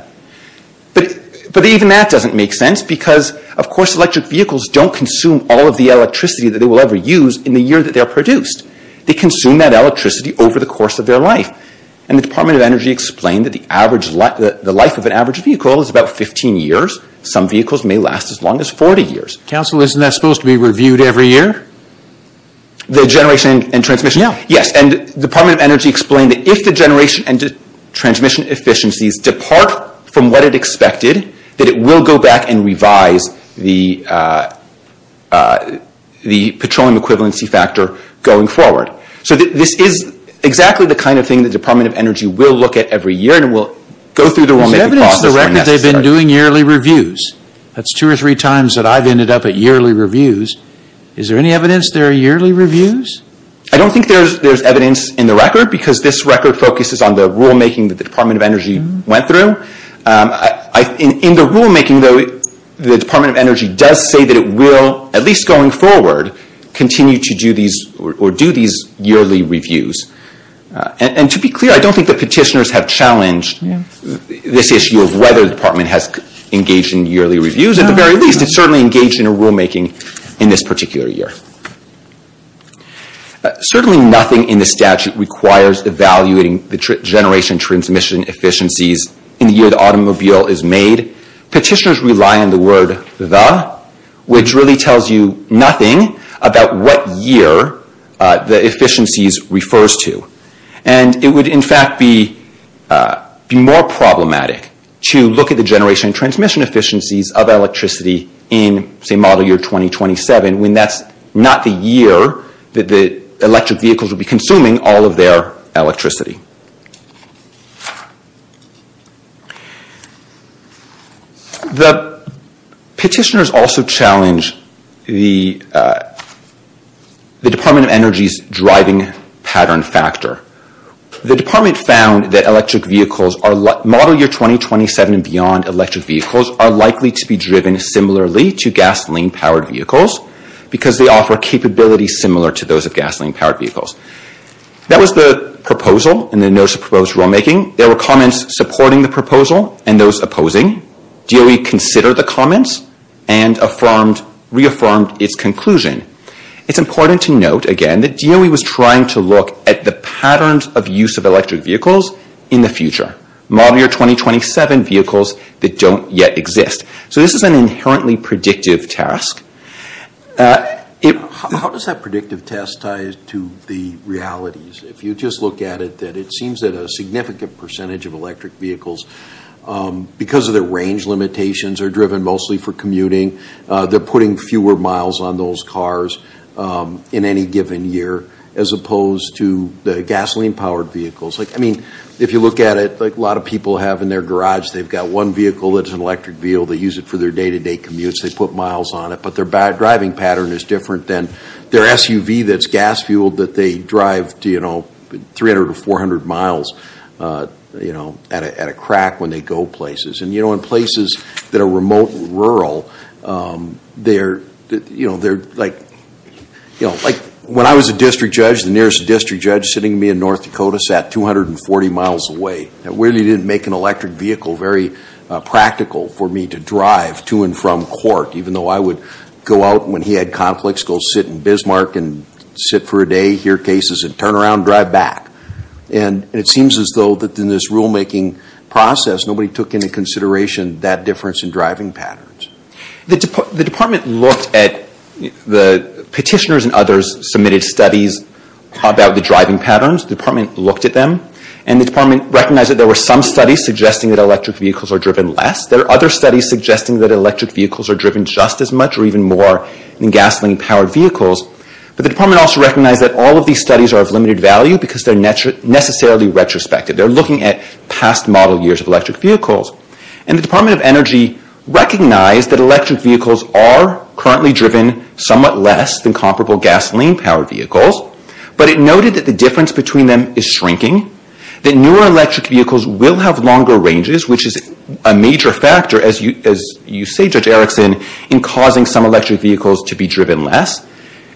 But even that doesn't make sense, because, of course, electric vehicles don't consume all of the electricity that they will ever use in the year that they are produced. They consume that electricity over the course of their life, and the Department of Energy explained that the life of an average vehicle is about 15 years. Some vehicles may last as long as 40 years. Counsel, isn't that supposed to be reviewed every year? The generation and transmission? Yeah. Yes. And the Department of Energy explained that if the generation and transmission efficiencies depart from what it expected, that it will go back and revise the petroleum equivalency factor going forward. So this is exactly the kind of thing the Department of Energy will look at every year, and will go through the rulemaking process when necessary. There's evidence to the record they've been doing yearly reviews. That's two or three times that I've ended up at yearly reviews. Is there any evidence there are yearly reviews? I don't think there's evidence in the record, because this record focuses on the rulemaking that the Department of Energy went through. In the rulemaking, though, the Department of Energy does say that it will, at least going forward, continue to do these yearly reviews. And to be clear, I don't think the petitioners have challenged this issue of whether the Department has engaged in yearly reviews. At the very least, it's certainly engaged in a rulemaking in this particular year. Certainly nothing in the statute requires evaluating the generation and transmission efficiencies in the year the automobile is made. Petitioners rely on the word, the, which really tells you nothing about what year the efficiencies refers to. It would, in fact, be more problematic to look at the generation and transmission efficiencies of electricity in, say, model year 2027, when that's not the year that the electric vehicles will be consuming all of their electricity. The petitioners also challenge the Department of Energy's driving pattern factor. The Department found that electric vehicles are, model year 2027 and beyond, electric vehicles are likely to be driven similarly to gasoline-powered vehicles, because they offer capabilities similar to those of gasoline-powered vehicles. That was the proposal and the notice of proposed rulemaking. There were comments supporting the proposal and those opposing. DOE considered the comments and reaffirmed its conclusion. It's important to note, again, that DOE was trying to look at the patterns of use of electric vehicles in the future, model year 2027 vehicles that don't yet exist. So this is an inherently predictive task. How does that predictive task tie to the realities? If you just look at it, that it seems that a significant percentage of electric vehicles, because of their range limitations, are driven mostly for commuting. They're putting fewer miles on those cars in any given year, as opposed to the gasoline-powered vehicles. I mean, if you look at it, like a lot of people have in their garage, they've got one vehicle that's an electric vehicle, they use it for their day-to-day commutes, they put miles on it, but their driving pattern is different than their SUV that's gas-fueled that they drive 300 or 400 miles at a crack when they go places. And in places that are remote and rural, they're like, when I was a district judge, the nearest district judge sitting me in North Dakota sat 240 miles away. It really didn't make an electric vehicle very practical for me to drive to and from court, even though I would go out when he had conflicts, go sit in Bismarck and sit for a day, hear cases, and turn around and drive back. And it seems as though that in this rulemaking process, nobody took into consideration that difference in driving patterns. The department looked at the petitioners and others submitted studies about the driving patterns. The department looked at them. And the department recognized that there were some studies suggesting that electric vehicles are driven less. There are other studies suggesting that electric vehicles are driven just as much or even more than gasoline-powered vehicles. But the department also recognized that all of these studies are of limited value because they're necessarily retrospective. They're looking at past model years of electric vehicles. And the Department of Energy recognized that electric vehicles are currently driven somewhat less than comparable gasoline-powered vehicles. But it noted that the difference between them is shrinking, that newer electric vehicles will have longer ranges, which is a major factor, as you say, Judge Erickson, in causing some electric vehicles to be driven less.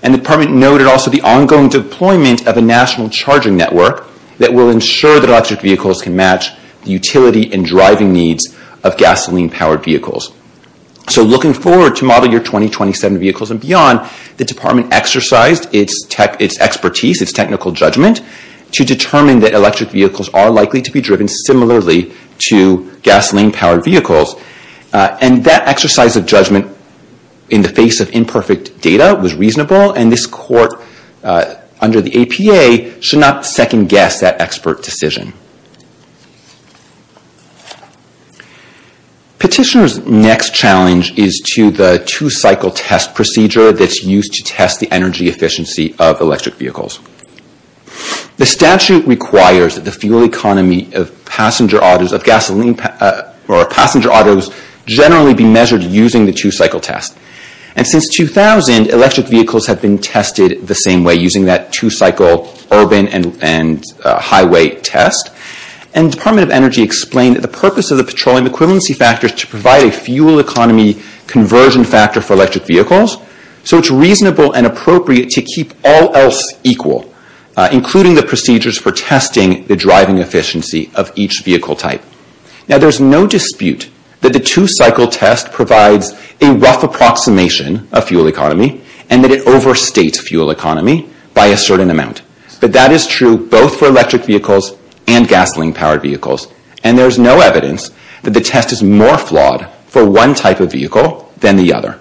And the department noted also the ongoing deployment of a national charging network that will ensure that electric vehicles can match the utility and driving needs of gasoline-powered vehicles. So, looking forward to model year 2027 vehicles and beyond, the department exercised its expertise, its technical judgment, to determine that electric vehicles are likely to be driven similarly to gasoline-powered vehicles. And that exercise of judgment in the face of imperfect data was reasonable. And this Court, under the APA, should not second-guess that expert decision. Petitioner's next challenge is to the two-cycle test procedure that's used to test the energy The statute requires that the fuel economy of passenger autos generally be measured using the two-cycle test. And since 2000, electric vehicles have been tested the same way, using that two-cycle urban and highway test. And the Department of Energy explained that the purpose of the petroleum equivalency factor is to provide a fuel economy conversion factor for electric vehicles, so it's reasonable and appropriate to keep all else equal, including the procedures for testing the driving efficiency of each vehicle type. Now there's no dispute that the two-cycle test provides a rough approximation of fuel economy and that it overstates fuel economy by a certain amount. But that is true both for electric vehicles and gasoline-powered vehicles. And there's no evidence that the test is more flawed for one type of vehicle than the other.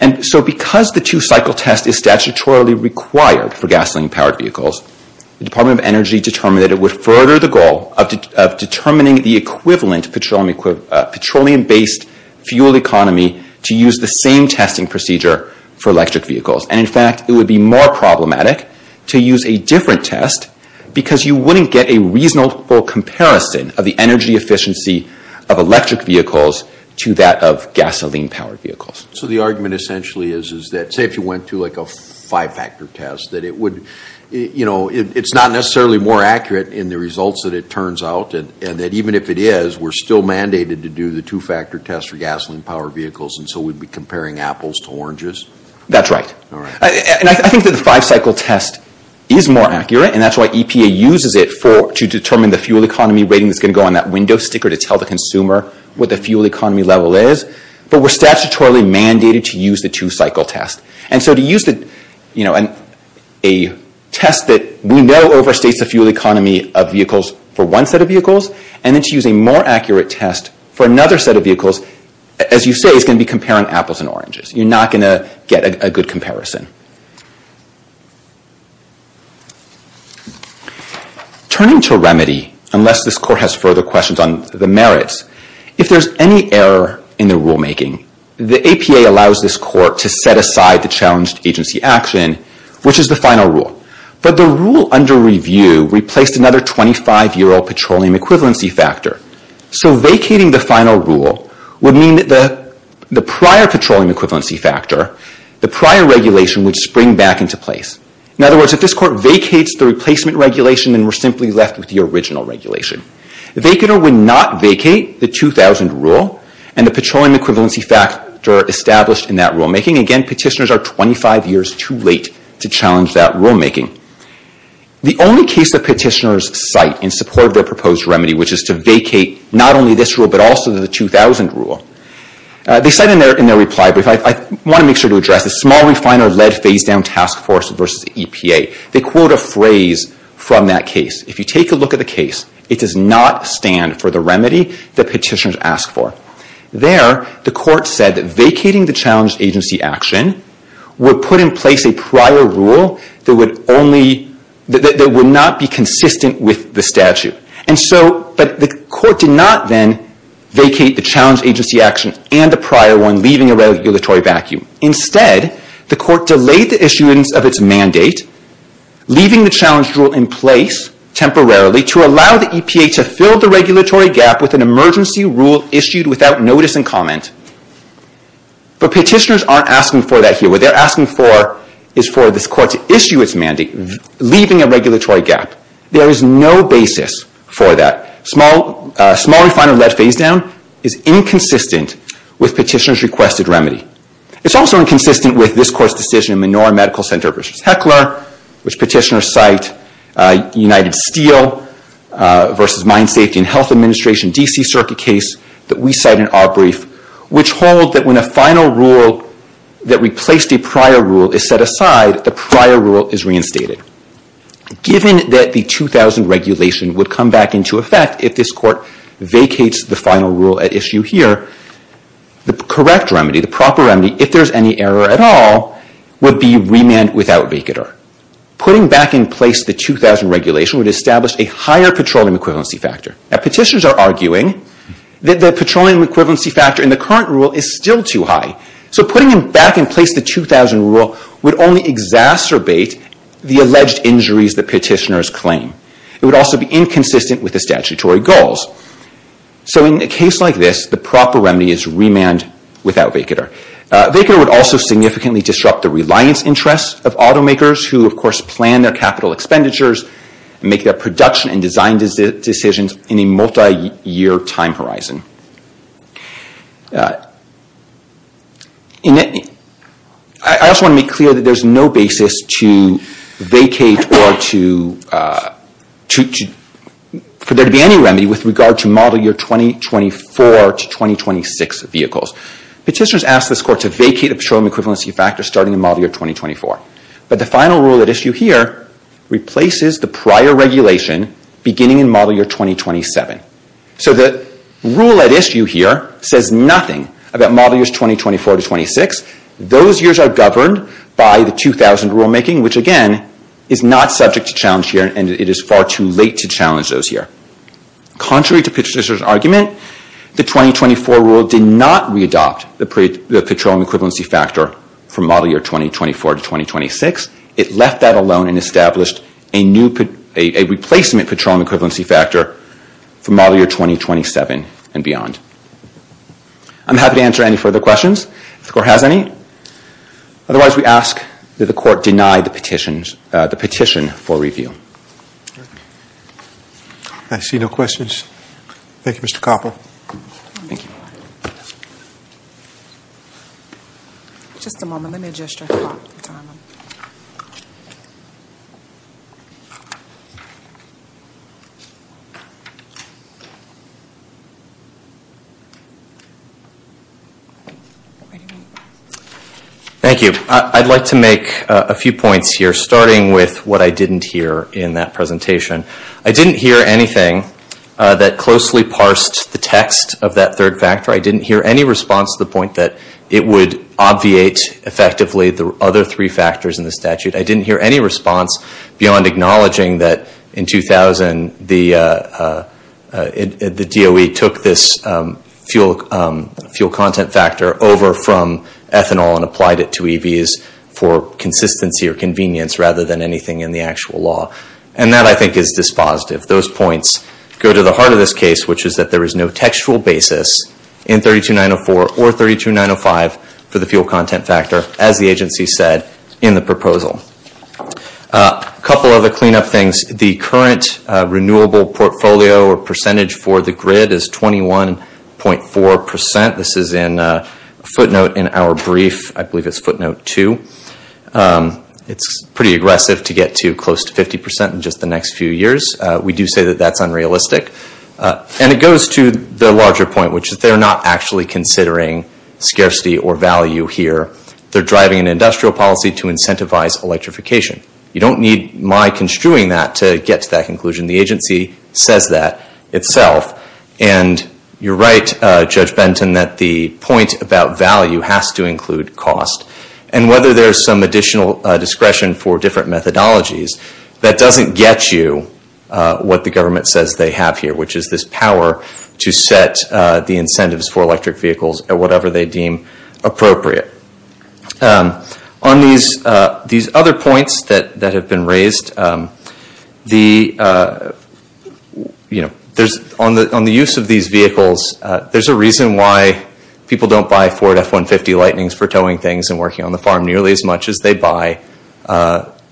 And so because the two-cycle test is statutorily required for gasoline-powered vehicles, the Department of Energy determined that it would further the goal of determining the equivalent petroleum-based fuel economy to use the same testing procedure for electric vehicles. And in fact, it would be more problematic to use a different test because you wouldn't get a reasonable comparison of the energy efficiency of electric vehicles to that of gasoline-powered vehicles. So the argument essentially is that, say if you went to like a five-factor test, that it would, you know, it's not necessarily more accurate in the results that it turns out and that even if it is, we're still mandated to do the two-factor test for gasoline-powered vehicles and so we'd be comparing apples to oranges? That's right. And I think that the five-cycle test is more accurate and that's why EPA uses it to determine the fuel economy rating that's going to go on that window sticker to tell the consumer what the fuel economy level is, but we're statutorily mandated to use the two-cycle test. And so to use the, you know, a test that we know overstates the fuel economy of vehicles for one set of vehicles and then to use a more accurate test for another set of vehicles, as you say, is going to be comparing apples and oranges. You're not going to get a good comparison. Turning to a remedy, unless this Court has further questions on the merits, if there's any error in the rulemaking, the APA allows this Court to set aside the challenged agency action, which is the final rule, but the rule under review replaced another 25-year-old petroleum equivalency factor. So vacating the final rule would mean that the prior petroleum equivalency factor, the regulation, would spring back into place. In other words, if this Court vacates the replacement regulation, then we're simply left with the original regulation. If they could or would not vacate the 2000 rule and the petroleum equivalency factor established in that rulemaking, again, petitioners are 25 years too late to challenge that rulemaking. The only case that petitioners cite in support of their proposed remedy, which is to vacate not only this rule but also the 2000 rule, they cite in their reply, but I want to make it very clear, is the small refiner lead phase-down task force versus EPA. They quote a phrase from that case. If you take a look at the case, it does not stand for the remedy that petitioners ask for. There, the Court said that vacating the challenged agency action would put in place a prior rule that would not be consistent with the statute. But the Court did not then vacate the challenged agency action and the prior one, leaving a regulatory vacuum. Instead, the Court delayed the issuance of its mandate, leaving the challenged rule in place temporarily to allow the EPA to fill the regulatory gap with an emergency rule issued without notice and comment. But petitioners aren't asking for that here. What they're asking for is for this Court to issue its mandate, leaving a regulatory gap. There is no basis for that. Small refiner lead phase-down is inconsistent with petitioners' requested remedy. It's also inconsistent with this Court's decision in Menorah Medical Center v. Heckler, which petitioners cite, United Steel v. Mine Safety and Health Administration, D.C. circuit case that we cite in our brief, which hold that when a final rule that replaced a prior rule is set aside, the prior rule is reinstated. Given that the 2000 regulation would come back into effect if this Court vacates the final rule at issue here, the correct remedy, the proper remedy, if there's any error at all, would be remand without vacater. Putting back in place the 2000 regulation would establish a higher petroleum equivalency factor. Now, petitioners are arguing that the petroleum equivalency factor in the current rule is still too high. So putting back in place the 2000 rule would only exacerbate the alleged injuries that petitioners claim. It would also be inconsistent with the statutory goals. So in a case like this, the proper remedy is remand without vacater. Vacater would also significantly disrupt the reliance interests of automakers who, of course, plan their capital expenditures, make their production and design decisions in a multi-year time horizon. I also want to make clear that there's no basis to vacate or for there to be any remedy with regard to model year 2024 to 2026 vehicles. Petitioners ask this Court to vacate a petroleum equivalency factor starting in model year 2024. But the final rule at issue here replaces the prior regulation beginning in model year 2027. So the rule at issue here says nothing about model years 2024 to 2026. Those years are governed by the 2000 rulemaking, which, again, is not subject to challenge here, and it is far too late to challenge those here. Contrary to petitioners' argument, the 2024 rule did not readopt the petroleum equivalency factor for model year 2024 to 2026. It left that alone and established a replacement petroleum equivalency factor for model year 2027 and beyond. I'm happy to answer any further questions if the Court has any. Otherwise, we ask that the Court deny the petition for review. I see no questions. Thank you, Mr. Koppel. Thank you. Thank you. I'd like to make a few points here, starting with what I didn't hear in that presentation. I didn't hear anything that closely parsed the text of that third factor. I didn't hear any response to the point that it would obviate effectively the other three factors in the statute. I didn't hear any response beyond acknowledging that in 2000, the DOE took this fuel content factor over from ethanol and applied it to EVs for consistency or convenience rather than anything in the actual law. And that, I think, is dispositive. Those points go to the heart of this case, which is that there is no textual basis in 32904 or 32905 for the fuel content factor, as the agency said in the proposal. A couple other cleanup things. The current renewable portfolio or percentage for the grid is 21.4 percent. This is in a footnote in our brief, I believe it's footnote two. It's pretty aggressive to get too close to 50 percent in just the next few years. We do say that that's unrealistic. And it goes to the larger point, which is they're not actually considering scarcity or value here. They're driving an industrial policy to incentivize electrification. You don't need my construing that to get to that conclusion. The agency says that itself. And you're right, Judge Benton, that the point about value has to include cost. And whether there's some additional discretion for different methodologies, that doesn't get you what the government says they have here, which is this power to set the incentives for electric vehicles at whatever they deem appropriate. On these other points that have been raised, on the use of these vehicles, there's a reason why people don't buy Ford F-150 Lightnings for towing things and working on the farm nearly as much as they buy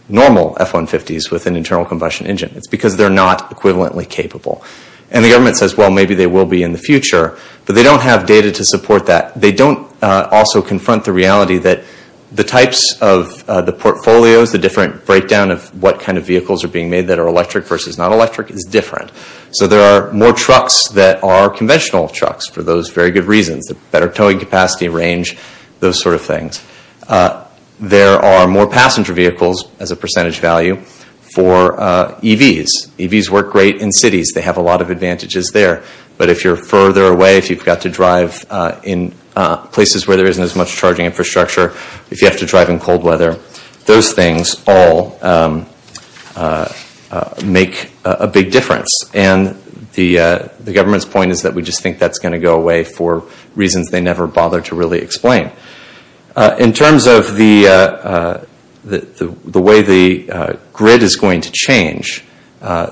normal F-150s with an internal combustion engine. It's because they're not equivalently capable. And the government says, well, maybe they will be in the future, but they don't have data to support that. They don't also confront the reality that the types of the portfolios, the different breakdown of what kind of vehicles are being made that are electric versus not electric is different. So there are more trucks that are conventional trucks for those very good reasons, the better towing capacity range, those sort of things. There are more passenger vehicles as a percentage value for EVs. EVs work great in cities. They have a lot of advantages there. But if you're further away, if you've got to drive in places where there isn't as much charging infrastructure, if you have to drive in cold weather, those things all make a big difference. And the government's point is that we just think that's going to go away for reasons they never bother to really explain. In terms of the way the grid is going to change,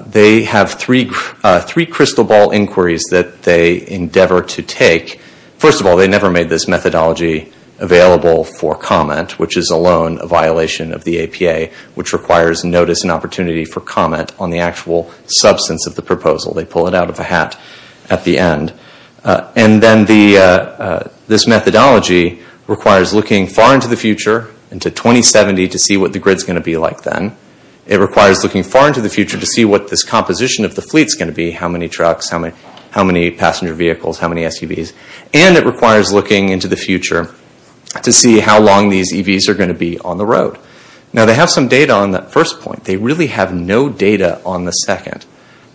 they have three crystal ball inquiries that they endeavor to take. First of all, they never made this methodology available for comment, which is alone a violation of the APA, which requires notice and opportunity for comment on the actual substance of the proposal. They pull it out of a hat at the end. And then this methodology requires looking far into the future, into 2070, to see what the grid's going to be like then. It requires looking far into the future to see what this composition of the fleet's going to be, how many trucks, how many passenger vehicles, how many SUVs. And it requires looking into the future to see how long these EVs are going to be on the road. Now, they have some data on that first point. They really have no data on the second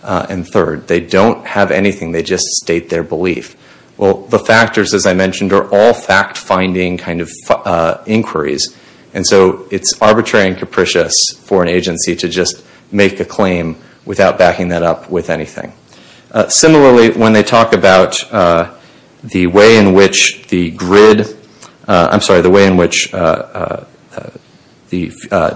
and third. They don't have anything. They just state their belief. The factors, as I mentioned, are all fact-finding kind of inquiries. And so it's arbitrary and capricious for an agency to just make a claim without backing that up with anything. Similarly, when they talk about the way in which the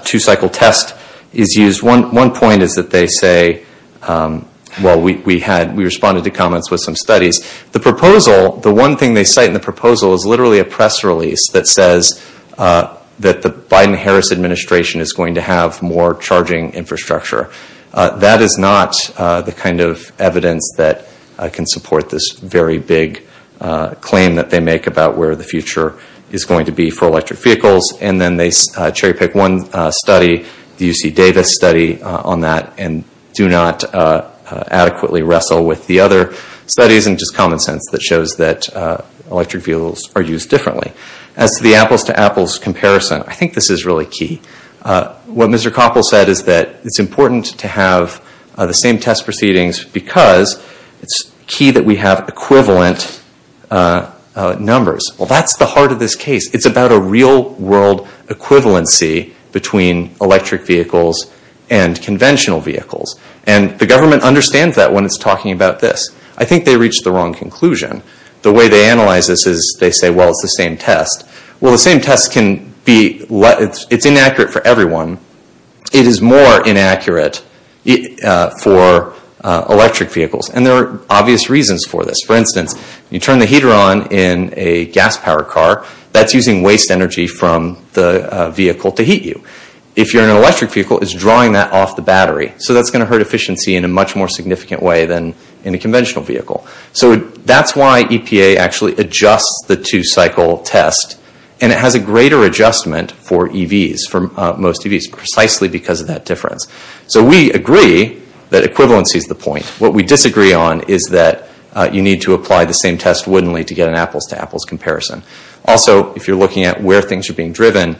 two-cycle test is used, one point is that they say – well, we had – we responded to comments with some studies. The proposal – the one thing they cite in the proposal is literally a press release that says that the Biden-Harris administration is going to have more charging infrastructure. That is not the kind of evidence that can support this very big claim that they make about where the future is going to be for electric vehicles. And then they cherry-pick one study, the UC Davis study, on that and do not adequately wrestle with the other studies and just common sense that shows that electric vehicles are used differently. As to the apples-to-apples comparison, I think this is really key. What Mr. Koppel said is that it's important to have the same test proceedings because it's key that we have equivalent numbers. Well, that's the heart of this case. It's about a real-world equivalency between electric vehicles and conventional vehicles. And the government understands that when it's talking about this. I think they reached the wrong conclusion. The way they analyze this is they say, well, it's the same test. Well, the same test can be – it's inaccurate for everyone. It is more inaccurate for electric vehicles. And there are obvious reasons for this. For instance, you turn the heater on in a gas-powered car, that's using waste energy from the vehicle to heat you. If you're in an electric vehicle, it's drawing that off the battery. So that's going to hurt efficiency in a much more significant way than in a conventional vehicle. So that's why EPA actually adjusts the two-cycle test. And it has a greater adjustment for EVs, for most EVs, precisely because of that difference. So we agree that equivalency is the point. What we disagree on is that you need to apply the same test woodenly to get an apples-to-apples comparison. Also, if you're looking at where things are being driven,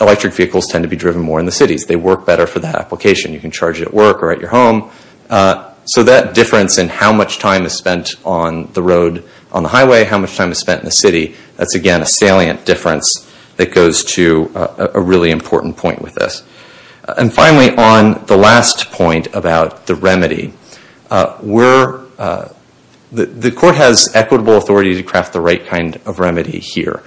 electric vehicles tend to be driven more in the cities. They work better for that application. You can charge it at work or at your home. So that difference in how much time is spent on the road, on the highway, how much time is spent in the city, that's, again, a salient difference that goes to a really important point with this. And finally, on the last point about the remedy, the court has equitable authority to craft the right kind of remedy here.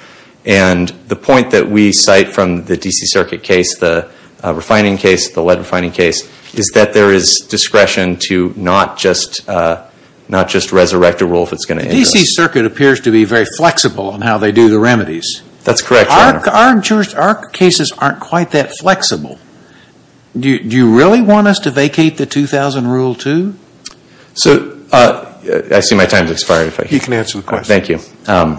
And the point that we cite from the D.C. Circuit case, the refining case, the lead refining case, is that there is discretion to not just resurrect a rule if it's going to end this. The D.C. Circuit appears to be very flexible in how they do the remedies. That's correct, Your Honor. But our cases aren't quite that flexible. Do you really want us to vacate the 2000 rule too? So I see my time has expired. You can answer the question. Thank you.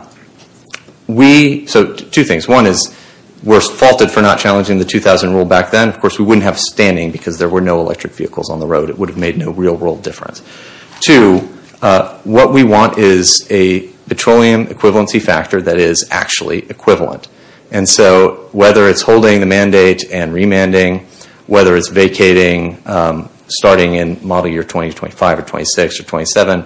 So two things. One is we're faulted for not challenging the 2000 rule back then. Of course, we wouldn't have standing because there were no electric vehicles on the road. It would have made no real world difference. Two, what we want is a petroleum equivalency factor that is actually equivalent. And so whether it's holding the mandate and remanding, whether it's vacating starting in model year 2025 or 2026 or 2027,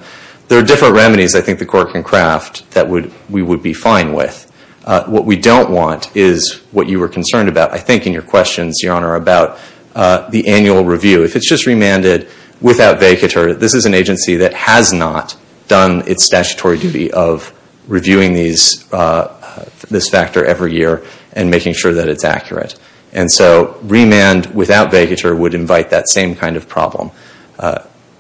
there are different remedies I think the court can craft that we would be fine with. What we don't want is what you were concerned about, I think, in your questions, Your Honor, about the annual review. If it's just remanded without vacatur, this is an agency that has not done its statutory duty of reviewing this factor every year and making sure that it's accurate. And so remand without vacatur would invite that same kind of problem.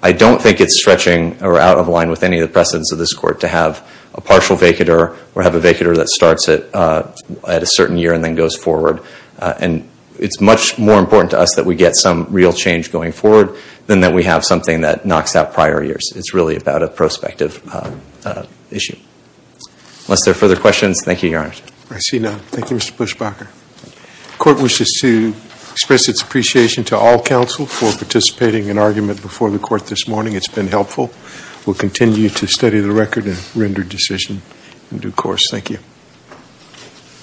I don't think it's stretching or out of line with any of the precedents of this Court to have a partial vacatur or have a vacatur that starts at a certain year and then goes forward. And it's much more important to us that we get some real change going forward than that we have something that knocks out prior years. It's really about a prospective issue. Unless there are further questions, thank you, Your Honor. I see none. Thank you, Mr. Bushbacher. The Court wishes to express its appreciation to all counsel for participating in argument before the Court this morning. It's been helpful. We'll continue to study the record and render decision in due course. Thank you.